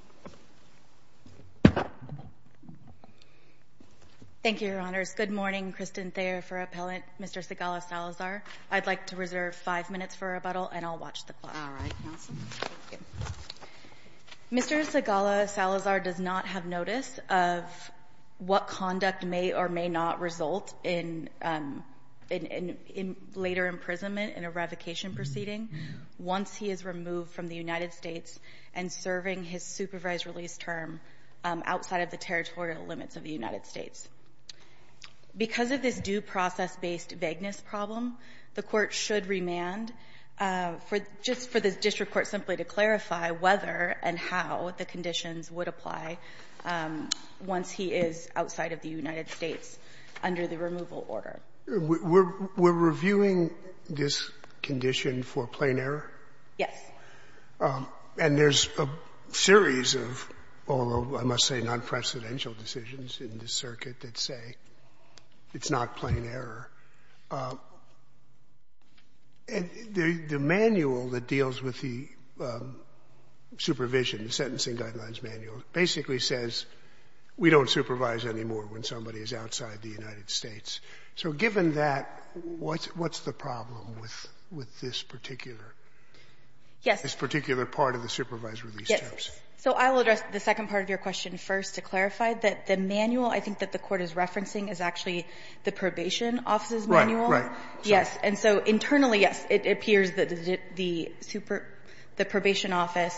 Mr. Sigala-Salazar does not have notice of what conduct may or may not result in later imprisonment in a revocation proceeding once he is removed from the United States and serving his supervised release term outside of the territorial limits of the United States. Because of this due process-based vagueness problem, the Court should remand for just for the district court simply to clarify whether and how the conditions would apply once he is outside of the United States under the removal order. Scalia We're reviewing this condition for plain error? Yes. And there's a series of all of, I must say, non-precedential decisions in this circuit that say it's not plain error. And the manual that deals with the supervision, the sentencing guidelines manual, basically says we don't supervise anymore when somebody is outside the United States. So given that, what's the problem with this particular? Yes. This particular part of the supervised release terms? Yes. So I will address the second part of your question first to clarify that the manual I think that the Court is referencing is actually the probation office's manual. Right, right. Yes. And so internally, yes, it appears that the probation office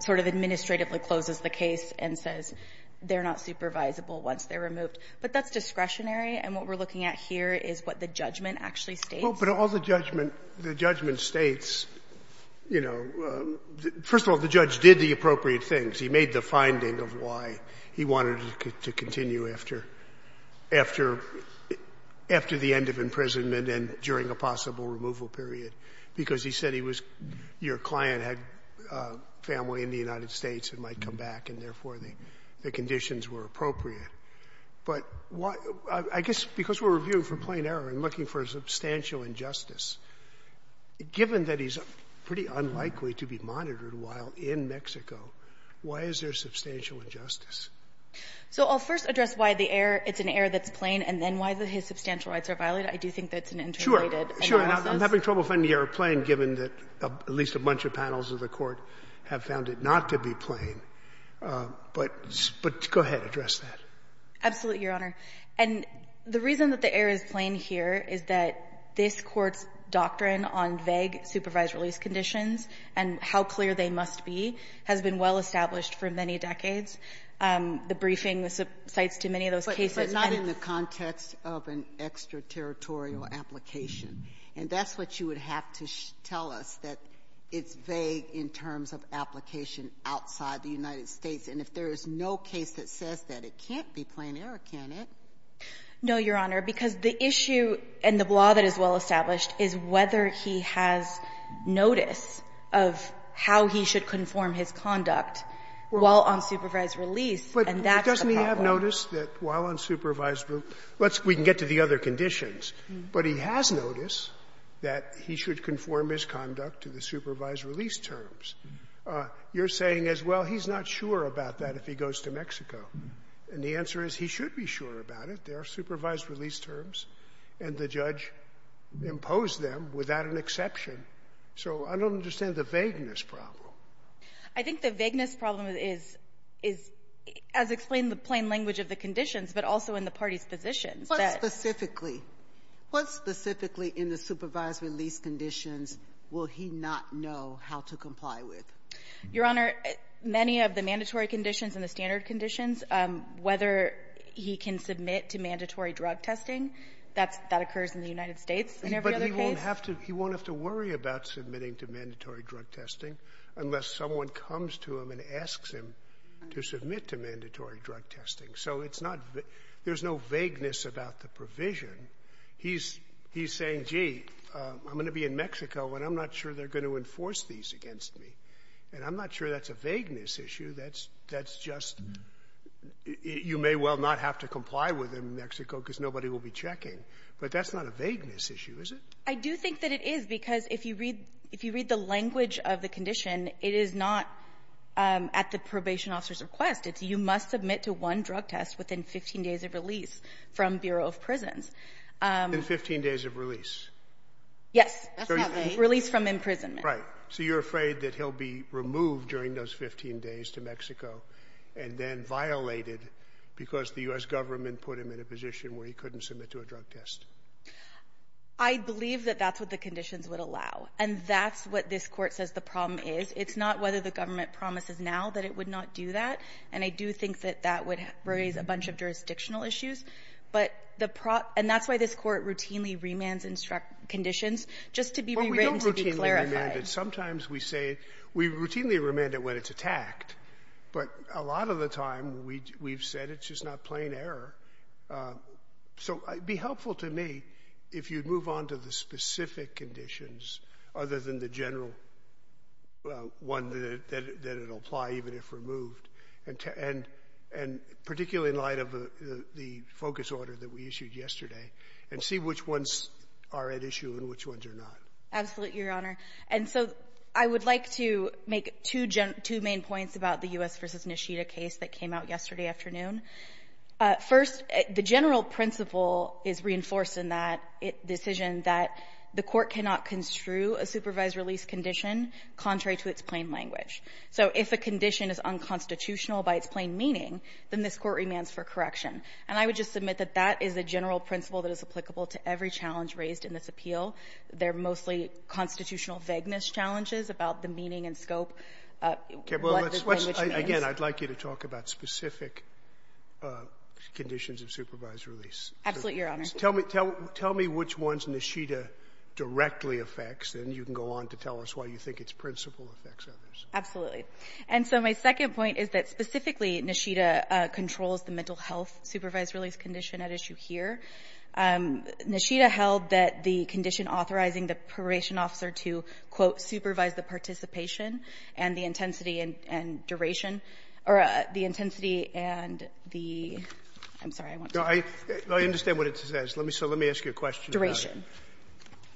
sort of administratively closes the case and says they're not supervisable once they're removed. But that's discretionary, and what we're looking at here is what the judgment actually states. But all the judgment states, you know, first of all, the judge did the appropriate things. He made the finding of why he wanted to continue after the end of imprisonment and during a possible removal period, because he said he was, your client had family in the United States and might come back, and therefore the conditions were appropriate. But I guess because we're reviewing for plain error and looking for a substantial injustice, given that he's pretty unlikely to be monitored while in Mexico, why is there substantial injustice? So I'll first address why the error, it's an error that's plain, and then why his substantial rights are violated. I do think that's an interrelated analysis. Sure. Sure. I'm having trouble finding the error plain, given that at least a bunch of panels of the Court have found it not to be plain. But go ahead. Address that. Absolutely, Your Honor. And the reason that the error is plain here is that this Court's doctrine on vague supervised release conditions and how clear they must be has been well established for many decades. The briefing cites to many of those cases. But not in the context of an extraterritorial application. And that's what you would have to tell us, that it's vague in terms of application outside the United States. And if there is no case that says that, it can't be plain error, can it? No, Your Honor, because the issue and the law that is well established is whether he has notice of how he should conform his conduct while on supervised release, and that's the problem. But doesn't he have notice that while on supervised release, let's we can get to the other conditions, but he has notice that he should conform his conduct to the supervised release terms. You're saying as well, he's not sure about that if he goes to Mexico. And the answer is he should be sure about it. There are supervised release terms, and the judge imposed them without an exception. So I don't understand the vagueness problem. I think the vagueness problem is, as explained in the plain language of the conditions, but also in the parties' positions. What specifically, what specifically in the supervised release conditions will he not know how to comply with? Your Honor, many of the mandatory conditions and the standard conditions, whether he can submit to mandatory drug testing, that's that occurs in the United States in every other case. But he won't have to worry about submitting to mandatory drug testing unless someone comes to him and asks him to submit to mandatory drug testing. So it's not the – there's no vagueness about the provision. He's saying, gee, I'm going to be in Mexico, and I'm not sure they're going to enforce these against me. And I'm not sure that's a vagueness issue. That's just – you may well not have to comply with him in Mexico because nobody will be checking. But that's not a vagueness issue, is it? I do think that it is, because if you read the language of the condition, it is not at the probation officer's request. You must submit to one drug test within 15 days of release from Bureau of Prisons. Within 15 days of release? Yes. That's not vague. Release from imprisonment. Right. So you're afraid that he'll be removed during those 15 days to Mexico and then violated because the U.S. Government put him in a position where he couldn't submit to a drug test? I believe that that's what the conditions would allow. And that's what this Court says the problem is. It's not whether the government promises now that it would not do that. And I do think that that would raise a bunch of jurisdictional issues. But the – and that's why this Court routinely remands conditions, just to be written to be clarified. Right. And sometimes we say – we routinely remand it when it's attacked. But a lot of the time, we've said it's just not plain error. So it'd be helpful to me if you'd move on to the specific conditions, other than the general one that it'll apply even if removed, and particularly in light of the focus order that we issued yesterday, and see which ones are at issue and which ones are not. Absolutely, Your Honor. And so I would like to make two main points about the U.S. v. Nishida case that came out yesterday afternoon. First, the general principle is reinforced in that decision that the Court cannot construe a supervised release condition contrary to its plain language. So if a condition is unconstitutional by its plain meaning, then this Court remands for correction. And I would just submit that that is a general principle that is applicable to every challenge raised in this appeal. They're mostly constitutional vagueness challenges about the meaning and scope. Okay, well, let's – again, I'd like you to talk about specific conditions of supervised release. Absolutely, Your Honor. Tell me which ones Nishida directly affects, and you can go on to tell us why you think its principle affects others. Absolutely. And so my second point is that specifically Nishida controls the mental health supervised release condition at issue here. Nishida held that the condition authorizing the probation officer to, quote, supervise the participation and the intensity and duration, or the intensity and the – I'm sorry, I won't say it. No, I understand what it says. Let me ask you a question. Duration.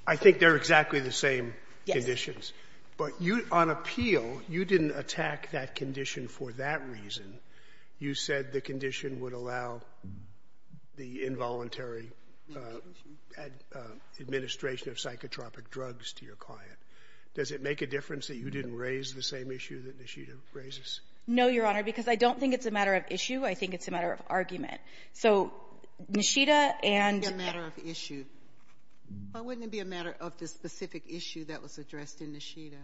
I think they're exactly the same conditions. Yes. But you, on appeal, you didn't attack that condition for that reason. You said the condition would allow the involuntary administration of psychotropic drugs to your client. Does it make a difference that you didn't raise the same issue that Nishida raises? No, Your Honor, because I don't think it's a matter of issue. I think it's a matter of argument. So Nishida and — Why wouldn't it be a matter of issue? Why wouldn't it be a matter of the specific issue that was addressed in Nishida?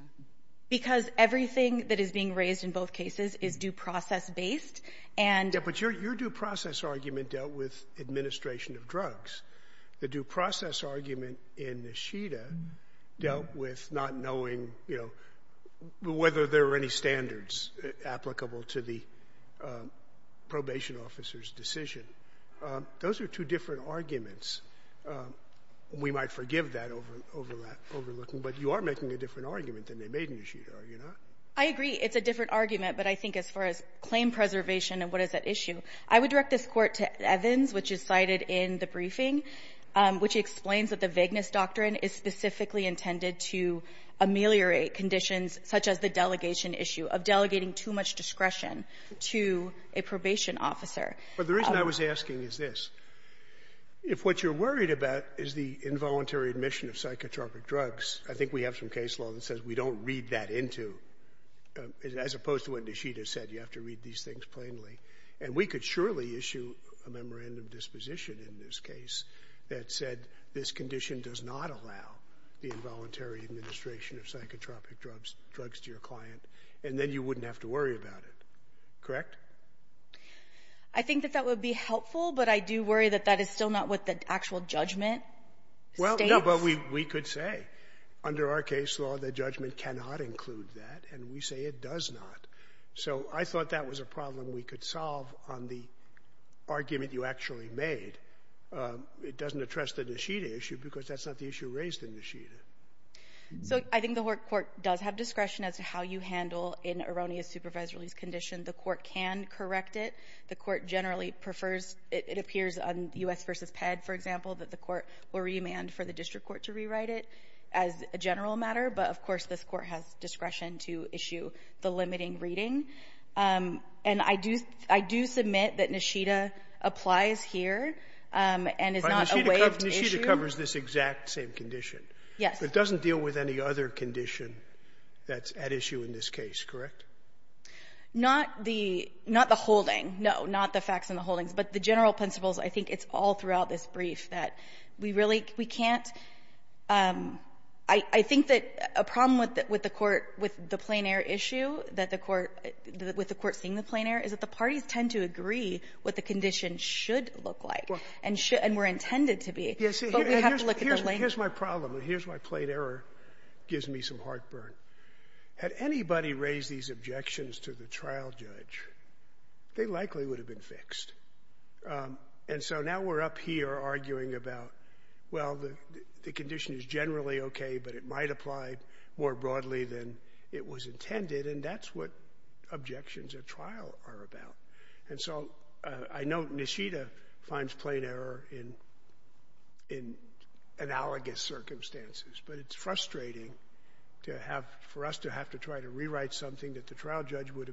Because everything that is being raised in both cases is due process based, and — Yeah, but your due process argument dealt with administration of drugs. The due process argument in Nishida dealt with not knowing, you know, whether there were any standards applicable to the probation officer's decision. Those are two different arguments. We might forgive that overlooking, but you are making a different argument than they made in Nishida, are you not? I agree. It's a different argument, but I think as far as claim preservation and what is at issue, I would direct this Court to Evans, which is cited in the briefing, which explains that the vagueness doctrine is specifically intended to ameliorate conditions such as the delegation issue of delegating too much discretion to a probation officer. But the reason I was asking is this. If what you're worried about is the involuntary admission of psychotropic drugs, I think we have some case law that says we don't read that into — as opposed to what Nishida said, you have to read these things plainly. And we could surely issue a memorandum of disposition in this case that said this condition does not allow the involuntary administration of psychotropic drugs to your client, and then you wouldn't have to worry about it. Correct? I think that that would be helpful, but I do worry that that is still not what the actual judgment states. Well, no, but we could say under our case law that judgment cannot include that, and we say it does not. So I thought that was a problem we could solve on the argument you actually made. It doesn't address the Nishida issue because that's not the issue raised in Nishida. So I think the court does have discretion as to how you handle an erroneous supervised release condition. The court can correct it. The court generally prefers — it appears on U.S. v. PEDD, for example, that the court will remand for the district court to rewrite it as a general matter. But, of course, this court has discretion to issue the limiting reading. And I do — I do submit that Nishida applies here and is not a way to issue — But Nishida covers this exact same condition. Yes. But it doesn't deal with any other condition that's at issue in this case, correct? Not the — not the holding, no, not the facts and the holdings. But the general principles, I think it's all throughout this brief that we really — we can't — I think that a problem with the court — with the plain-error issue that the court — with the court seeing the plain-error is that the parties tend to agree what the condition should look like and should — and were intended to be. But we have to look at the language. Here's my problem. Here's my plain-error. It gives me some heartburn. Had anybody raised these objections to the trial judge, they likely would have been fixed. And so now we're up here arguing about, well, the condition is generally okay, but it might apply more broadly than it was intended. And that's what objections at trial are about. And so I know Nishida finds plain error in analogous circumstances. But it's frustrating to have — for us to have to try to rewrite something that the court has put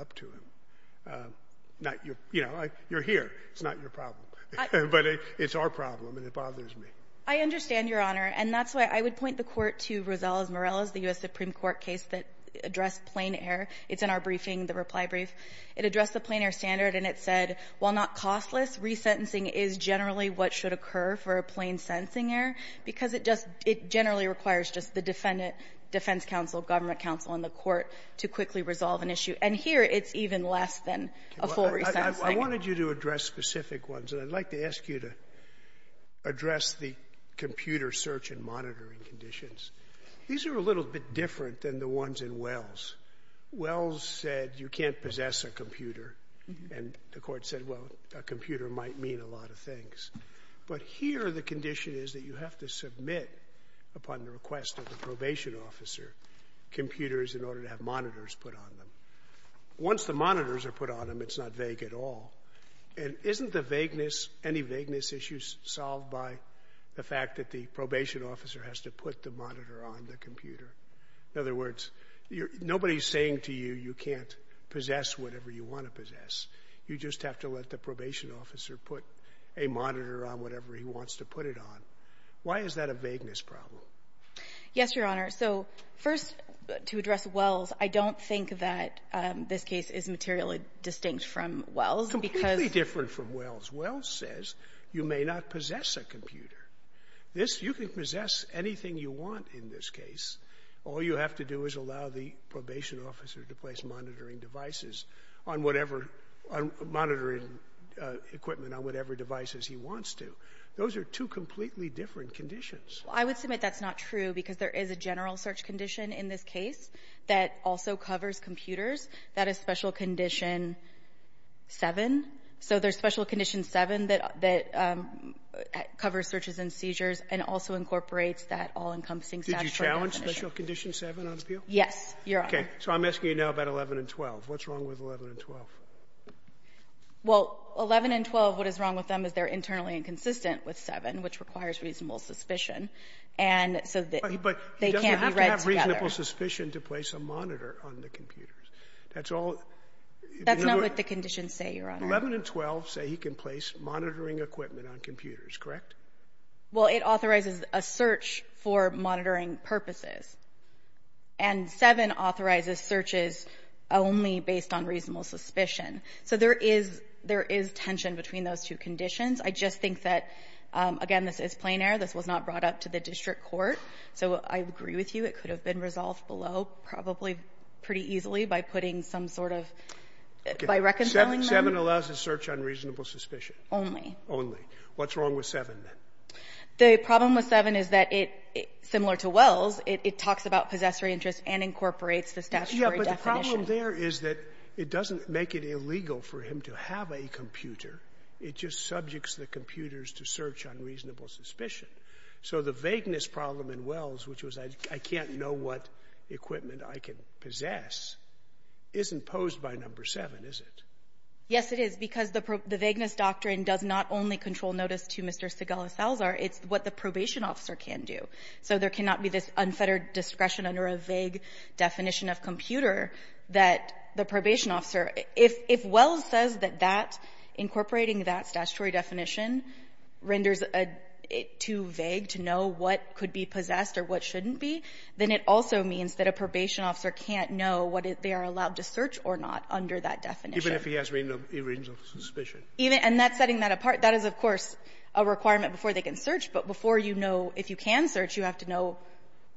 up to him, not your — you know, you're here. It's not your problem. But it's our problem, and it bothers me. I understand, Your Honor. And that's why I would point the court to Rosales-Morales, the U.S. Supreme Court case that addressed plain error. It's in our briefing, the reply brief. It addressed the plain-error standard, and it said, while not costless, resentencing is generally what should occur for a plain-sentencing error because it just — it generally requires just the defendant, defense counsel, government counsel, and the court to quickly resolve an issue. And here, it's even less than a full resentencing. Scalia, I wanted you to address specific ones. And I'd like to ask you to address the computer search and monitoring conditions. These are a little bit different than the ones in Wells. Wells said you can't possess a computer, and the court said, well, a computer might mean a lot of things. But here, the condition is that you have to submit, upon the request of a probation officer, computers in order to have monitors put on them. Once the monitors are put on them, it's not vague at all. And isn't the vagueness, any vagueness issues, solved by the fact that the probation officer has to put the monitor on the computer? In other words, nobody is saying to you, you can't possess whatever you want to possess. You just have to let the probation officer put a monitor on whatever he wants to put it on. Why is that a vagueness problem? Yes, Your Honor. So, first, to address Wells, I don't think that this case is materially distinct from Wells because — Completely different from Wells. Wells says you may not possess a computer. This — you can possess anything you want in this case. All you have to do is allow the probation officer to place monitoring devices on whatever — monitoring equipment on whatever devices he wants to. Those are two completely different conditions. Well, I would submit that's not true because there is a general search condition in this case that also covers computers. That is Special Condition 7. So there's Special Condition 7 that covers searches and seizures and also incorporates that all-encompassing statutory definition. Did you challenge Special Condition 7 on appeal? Yes, Your Honor. Okay. So I'm asking you now about 11 and 12. What's wrong with 11 and 12? Well, 11 and 12, what is wrong with them is they're internally inconsistent with 7, which requires reasonable suspicion, and so they can't be read together. But he doesn't have to have reasonable suspicion to place a monitor on the computers. That's all — That's not what the conditions say, Your Honor. 11 and 12 say he can place monitoring equipment on computers, correct? Well, it authorizes a search for monitoring purposes. And 7 authorizes searches only based on reasonable suspicion. So there is — there is tension between those two conditions. I just think that, again, this is plein air. This was not brought up to the district court. So I agree with you. It could have been resolved below, probably pretty easily, by putting some sort of — by reconciling them. 7 allows a search on reasonable suspicion? Only. Only. What's wrong with 7, then? The problem with 7 is that it — similar to Wells, it talks about possessory interest and incorporates the statutory definition. Yeah, but the problem there is that it doesn't make it illegal for him to have a computer. It just subjects the computers to search on reasonable suspicion. So the vagueness problem in Wells, which was, I can't know what equipment I can possess, isn't posed by number 7, is it? Yes, it is, because the vagueness doctrine does not only control notice to Mr. Segal Salzar. It's what the probation officer can do. So there cannot be this unfettered discretion under a vague definition of computer that the probation officer — If Wells says that that, incorporating that statutory definition, renders it too vague to know what could be possessed or what shouldn't be, then it also means that a probation officer can't know what they are allowed to search or not under that definition. Even if he has reasonable suspicion? Even — and that's setting that apart. That is, of course, a requirement before they can search, but before you know if you can search, you have to know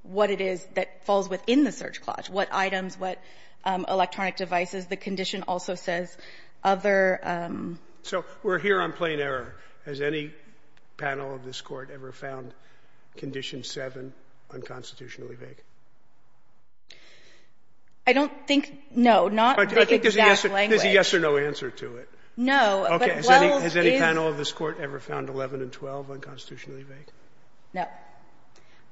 what it is that falls within the search clause, what items, what electronic devices. The condition also says other — So we're here on plain error. Has any panel of this Court ever found Condition 7 unconstitutionally vague? I don't think — no, not the exact language. There's a yes or no answer to it. No, but Wells is — Has any panel of this Court ever found 11 and 12 unconstitutionally vague? No.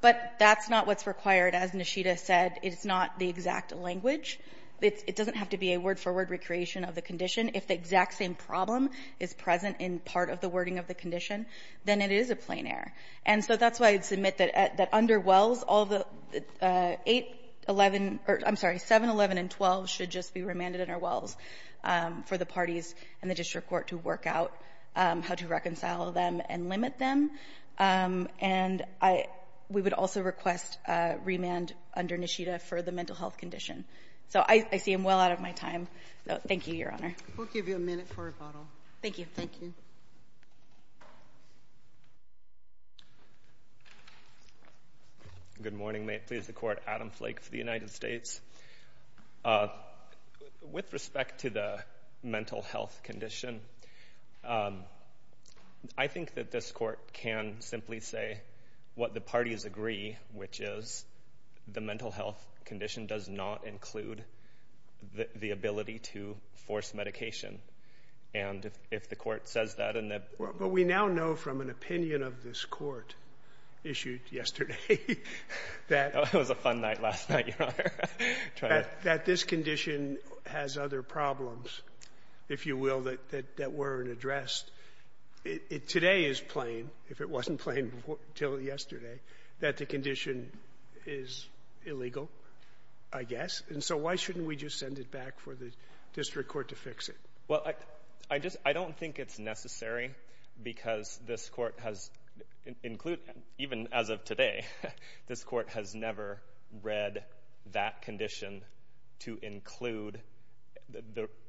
But that's not what's required. As Nishida said, it's not the exact language. It doesn't have to be a word-for-word recreation of the condition. If the exact same problem is present in part of the wording of the condition, then it is a plain error. And so that's why I'd submit that under Wells, all the 8, 11 — or, I'm sorry, 7, 11, and 12 should just be remanded under Wells for the parties and the district court to work out how to reconcile them and limit them. And I — we would also request remand under Nishida for the mental health condition. So I see him well out of my time. So thank you, Your Honor. We'll give you a minute for a bottle. Thank you. Thank you. Good morning. May it please the Court. Adam Flake for the United States. With respect to the mental health condition, I think that this Court can simply say what the parties agree, which is the mental health condition does not include the ability to force medication. And if the Court says that and the — Well, but we now know from an opinion of this Court issued yesterday that — It was a fun night last night, Your Honor. — that this condition has other problems, if you will, that weren't addressed. It — today is plain, if it wasn't plain until yesterday, that the condition is illegal, I guess. And so why shouldn't we just send it back for the district court to fix it? Well, I just — I don't think it's necessary because this Court has — even as of today, this Court has never read that condition to include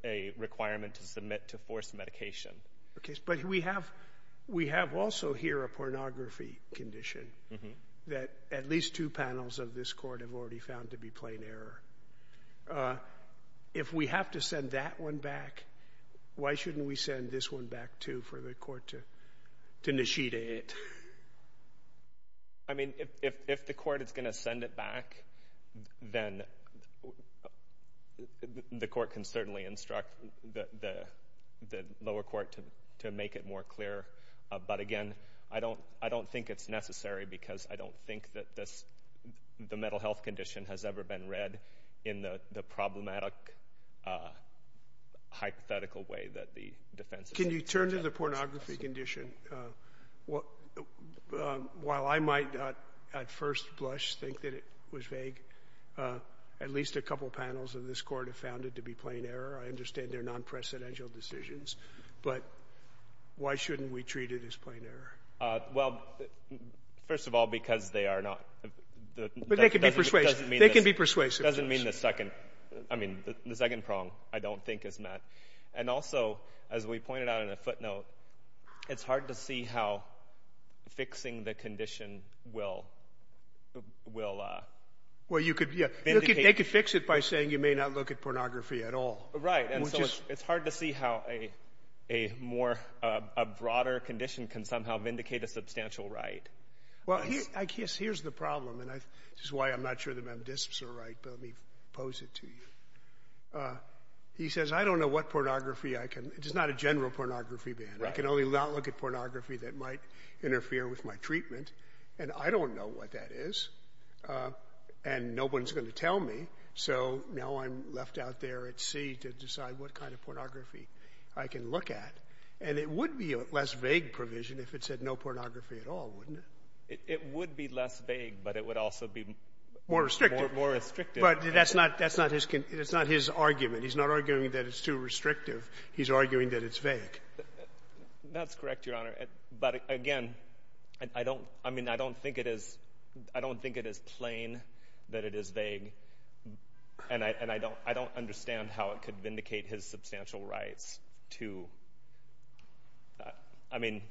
a requirement to submit to force medication But we have — we have also here a pornography condition that at least two panels of this Court have already found to be plain error. If we have to send that one back, why shouldn't we send this one back, too, for the Court to initiate it? I mean, if the Court is going to send it back, then the Court can certainly instruct the lower court to make it more clear. But again, I don't think it's necessary because I don't think that this — the mental health condition has ever been read in the problematic, hypothetical way that the defense — Can you turn to the pornography condition? While I might at first blush, think that it was vague, at least a couple of panels of this Court have found it to be plain error. I understand they're non-presidential decisions, but why shouldn't we treat it as plain error? Well, first of all, because they are not — But they can be persuasive. They can be persuasive. It doesn't mean the second — I mean, the second prong, I don't think, is met. And also, as we pointed out in a footnote, it's hard to see how fixing the condition will — Well, you could — they could fix it by saying you may not look at pornography at all. Right. And so it's hard to see how a more — a broader condition can somehow vindicate a substantial right. Well, I guess here's the problem, and this is why I'm not sure the M.D.I.S.P.s are right, but let me pose it to you. He says, I don't know what pornography I can — it's not a general pornography ban. I can only look at pornography that might interfere with my treatment, and I don't know what that is. And no one's going to tell me. So now I'm left out there at sea to decide what kind of pornography I can look at. And it would be a less vague provision if it said no pornography at all, wouldn't it? It would be less vague, but it would also be — More restrictive. More restrictive. But that's not — that's not his — it's not his argument. He's not arguing that it's too restrictive. He's arguing that it's vague. That's correct, Your Honor. But again, I don't — I mean, I don't think it is — I don't think it is plain that it is vague, and I don't understand how it could vindicate his substantial rights to — I mean,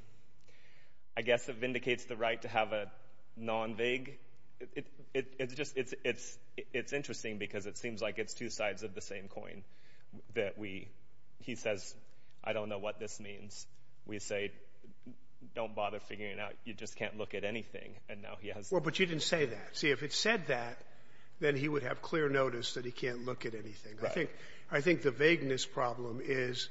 I guess it vindicates the right to have a non-vague — it's just — it's interesting because it seems like it's two sides of the same coin, that we — he says, I don't know what this means. We say, don't bother figuring it out. You just can't look at anything. And now he has — Well, but you didn't say that. See, if it said that, then he would have clear notice that he can't look at anything. Right. I think — I think the vagueness problem is,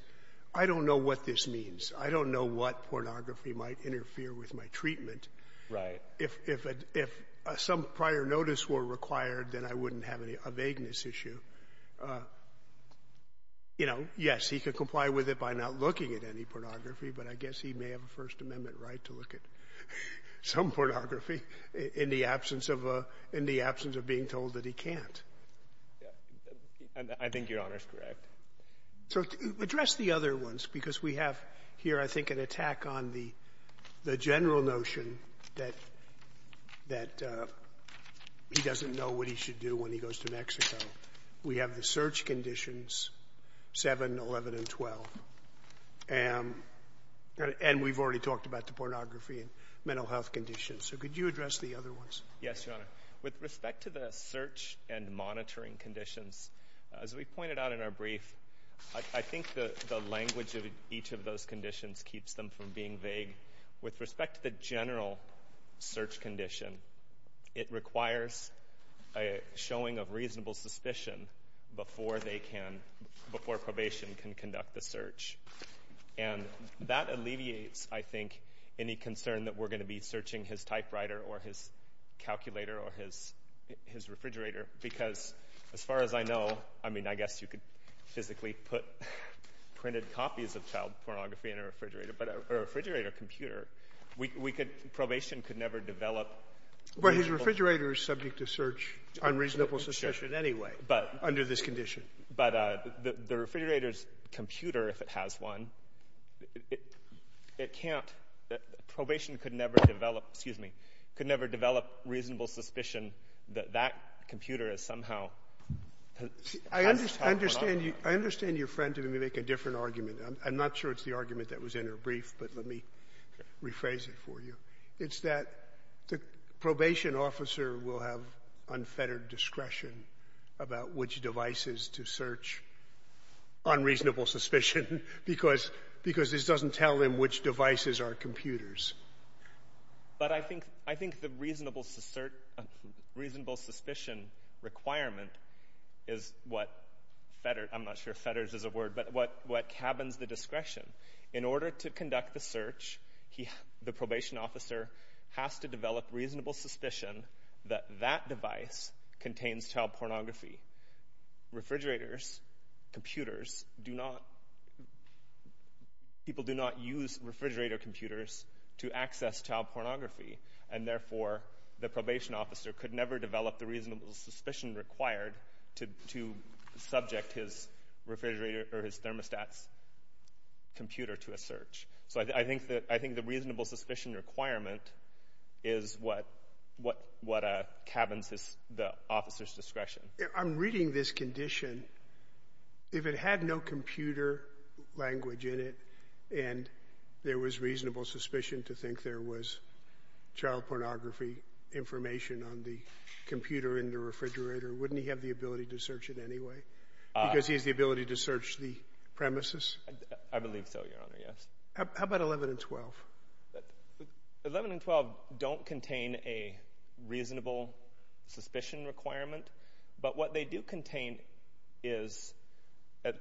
I don't know what this means. I don't know what pornography might interfere with my treatment. Right. If — if — if some prior notice were required, then I wouldn't have any — a vagueness issue. You know, yes, he could comply with it by not looking at any pornography, but I guess he may have a First Amendment right to look at some pornography in the absence of a — in the absence of being told that he can't. I think Your Honor is correct. So address the other ones, because we have here, I think, an attack on the general notion that — that he doesn't know what he should do when he goes to Mexico. We have the search conditions 7, 11, and 12, and — and we've already talked about the pornography and mental health conditions, so could you address the other ones? Yes, Your Honor. With respect to the search and monitoring conditions, as we pointed out in our brief, I think the language of each of those conditions keeps them from being vague. With respect to the general search condition, it requires a showing of reasonable suspicion before they can — before probation can conduct the search, and that alleviates, I think, any concern that we're going to be searching his typewriter or his calculator or his — his refrigerator, because as far as I know — I mean, I guess you could physically put printed copies of child pornography in a refrigerator, but a refrigerator computer, we could — probation could never develop — Well, his refrigerator is subject to search — unreasonable suspicion anyway, under this condition. But the refrigerator's computer, if it has one, it can't — probation could never develop — excuse me — could never develop reasonable suspicion that that computer is somehow — I understand — I understand your friend didn't make a different argument. I'm not sure it's the argument that was in her brief, but let me rephrase it for you. It's that the probation officer will have unfettered discretion about which devices to search on reasonable suspicion, because — because this doesn't tell them which devices are computers. But I think — I think the reasonable — reasonable suspicion requirement is what — I'm not sure if fetters is a word, but what cabins the discretion. In order to conduct the search, he — the probation officer has to develop reasonable suspicion that that device contains child pornography. Refrigerators, computers, do not — people do not use refrigerator computers to access child pornography, and therefore, the probation officer could never develop the reasonable suspicion required to subject his refrigerator or his thermostat's computer to a search. So I think that — I think the reasonable suspicion requirement is what — what cabins his — the officer's discretion. I'm reading this condition. If it had no computer language in it, and there was reasonable suspicion to think there was child pornography information on the computer in the refrigerator, wouldn't he have the ability to search it anyway, because he has the ability to search the premises? I believe so, Your Honor, yes. How about 11 and 12? 11 and 12 don't contain a reasonable suspicion requirement, but what they do contain is that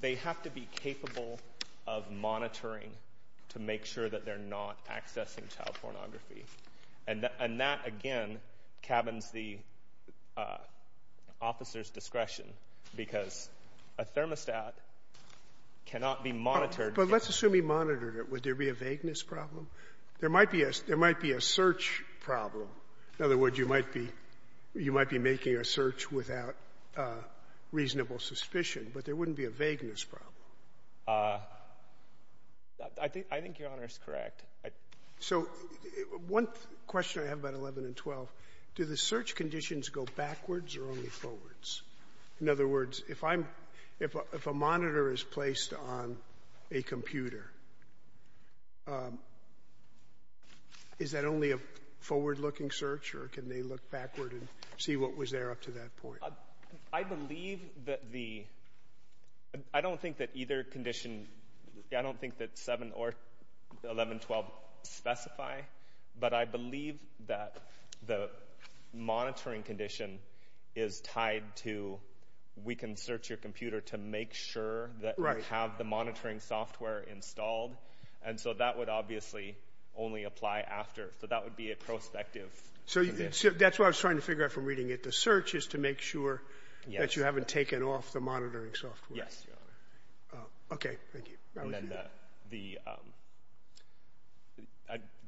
they have to be capable of monitoring to make sure that they're not accessing child pornography. And that, again, cabins the officer's discretion, because a thermostat cannot be monitored — But let's assume he monitored it. Would there be a vagueness problem? There might be a — there might be a search problem. In other words, you might be — you might be making a search without reasonable suspicion, but there wouldn't be a vagueness problem. I think — I think Your Honor is correct. So one question I have about 11 and 12, do the search conditions go backwards or only forwards? In other words, if I'm — if a monitor is placed on a computer, is that only a forward-looking search or can they look backward and see what was there up to that point? I believe that the — I don't think that either condition — I don't think that 7 or 11, 12 specify, but I believe that the monitoring condition is tied to, we can search your computer to make sure that you have the monitoring software installed. And so that would obviously only apply after, so that would be a prospective condition. So that's what I was trying to figure out from reading it. The search is to make sure that you haven't taken off the monitoring software. Yes. Okay. Thank you. And then the —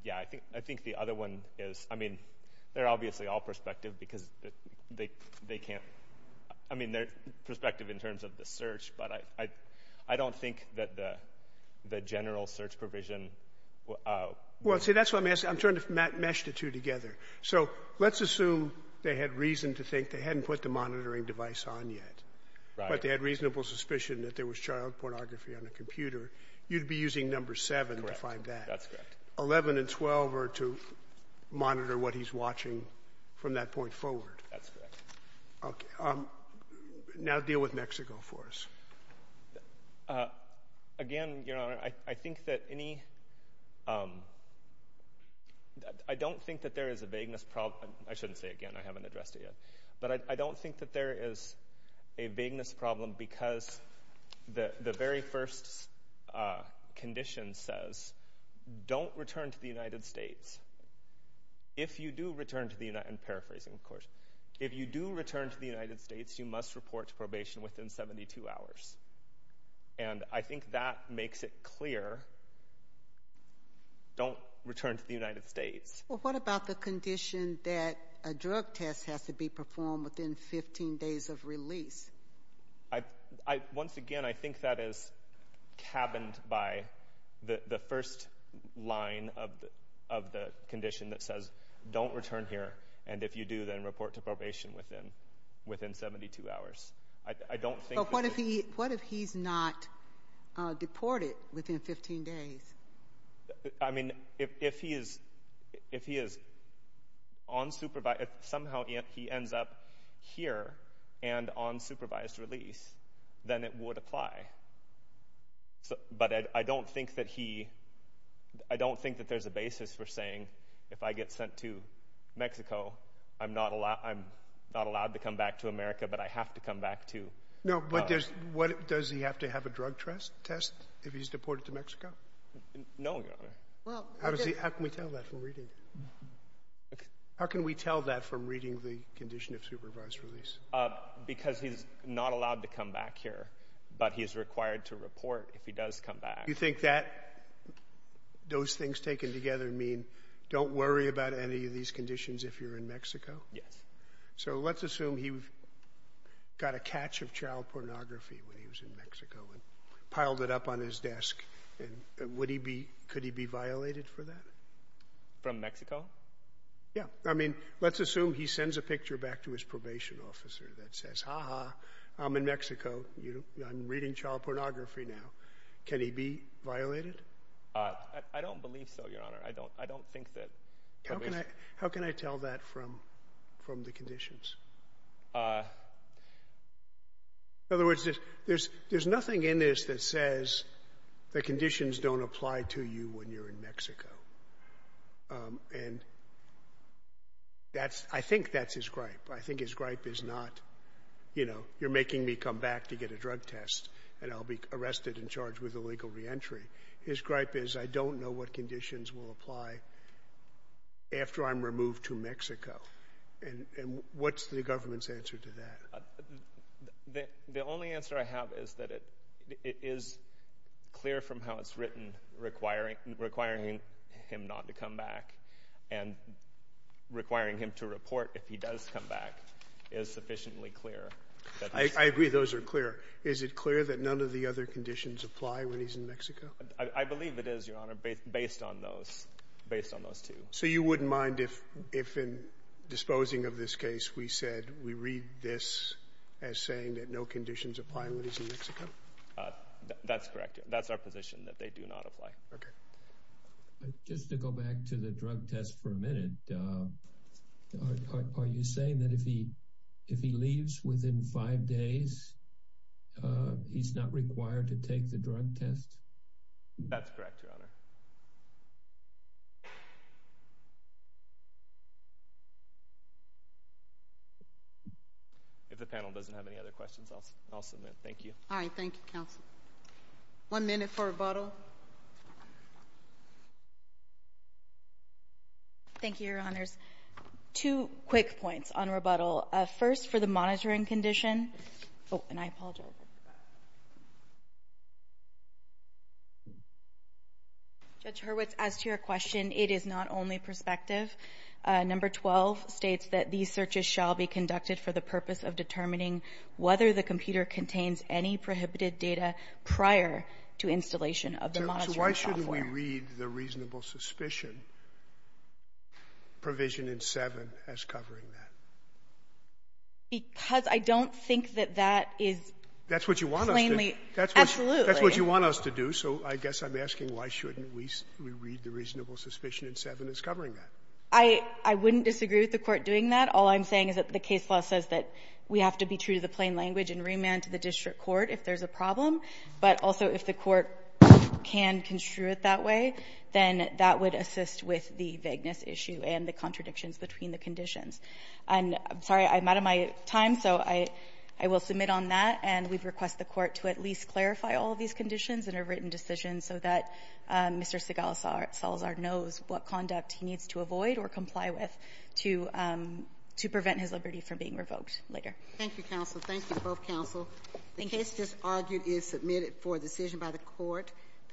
yeah, I think the other one is — I mean, they're obviously all prospective because they can't — I mean, they're prospective in terms of the search, but I don't think that the general search provision — Well, see, that's what I'm asking. I'm trying to mesh the two together. So let's assume they had reason to think they hadn't put the monitoring device on yet, but they had reasonable suspicion that there was child pornography on the computer, you'd be using number 7 to find that. Correct. That's correct. 11 and 12 are to monitor what he's watching from that point forward. That's correct. Okay. Now deal with Mexico for us. Again, Your Honor, I think that any — I don't think that there is a vagueness problem — I shouldn't say again. I haven't addressed it yet. But I don't think that there is a vagueness problem because the very first condition says don't return to the United States. If you do return to the — I'm paraphrasing, of course. If you do return to the United States, you must report to probation within 72 hours. And I think that makes it clear. Don't return to the United States. Well, what about the condition that a drug test has to be performed within 15 days of release? Once again, I think that is cabined by the first line of the condition that says don't return here, and if you do, then report to probation within 72 hours. I don't think — But what if he's not deported within 15 days? I mean, if he is on supervised — if somehow he ends up here and on supervised release, then it would apply. But I don't think that he — I don't think that there's a basis for saying if I get sent to Mexico, I'm not allowed to come back to America, but I have to come back to — No, Your Honor. How does he — how can we tell that from reading? How can we tell that from reading the condition of supervised release? Because he's not allowed to come back here, but he is required to report if he does come back. You think that — those things taken together mean don't worry about any of these conditions if you're in Mexico? Yes. So let's assume he got a catch of child pornography when he was in Mexico and piled it up on his desk. And would he be — could he be violated for that? From Mexico? Yeah. I mean, let's assume he sends a picture back to his probation officer that says, ha-ha, I'm in Mexico, I'm reading child pornography now. Can he be violated? I don't believe so, Your Honor. I don't think that — How can I — how can I tell that from the conditions? In other words, there's nothing in this that says the conditions don't apply to you when you're in Mexico. And that's — I think that's his gripe. I think his gripe is not, you know, you're making me come back to get a drug test and I'll be arrested and charged with illegal reentry. His gripe is, I don't know what conditions will apply after I'm removed to Mexico. And what's the government's answer to that? The only answer I have is that it is clear from how it's written, requiring him not to come back and requiring him to report if he does come back is sufficiently clear. I agree those are clear. Is it clear that none of the other conditions apply when he's in Mexico? I believe it is, Your Honor, based on those — based on those two. So you wouldn't mind if, in disposing of this case, we said we read this as saying that no conditions apply when he's in Mexico? That's correct. That's our position, that they do not apply. Okay. Just to go back to the drug test for a minute, are you saying that if he leaves within five days, he's not required to take the drug test? That's correct, Your Honor. If the panel doesn't have any other questions, I'll submit. Thank you. All right. Thank you, counsel. One minute for rebuttal. Thank you, Your Honors. Two quick points on rebuttal. First, for the monitoring condition — oh, and I apologize — Judge Hurwitz, as to your question, it is not only perspective. Number 12 states that these searches shall be conducted for the purpose of determining whether the computer contains any prohibited data prior to installation of the monitoring software. So why shouldn't we read the reasonable suspicion provision in 7 as covering that? Because I don't think that that is plainly — That's what you want us to do. Absolutely. That's what you want us to do. So I guess I'm asking why shouldn't we read the reasonable suspicion in 7 as covering that? I wouldn't disagree with the Court doing that. All I'm saying is that the case law says that we have to be true to the plain language and remand to the district court if there's a problem, but also if the Court can construe it that way, then that would assist with the vagueness issue and the contradictions between the conditions. And I'm sorry, I'm out of my time, so I will submit on that. And we request the Court to at least clarify all of these conditions in a written decision so that Mr. Salazar knows what conduct he needs to avoid or comply with to prevent his liberty from being revoked later. Thank you, counsel. Thank you, both counsel. The case just argued is submitted for decision by the Court.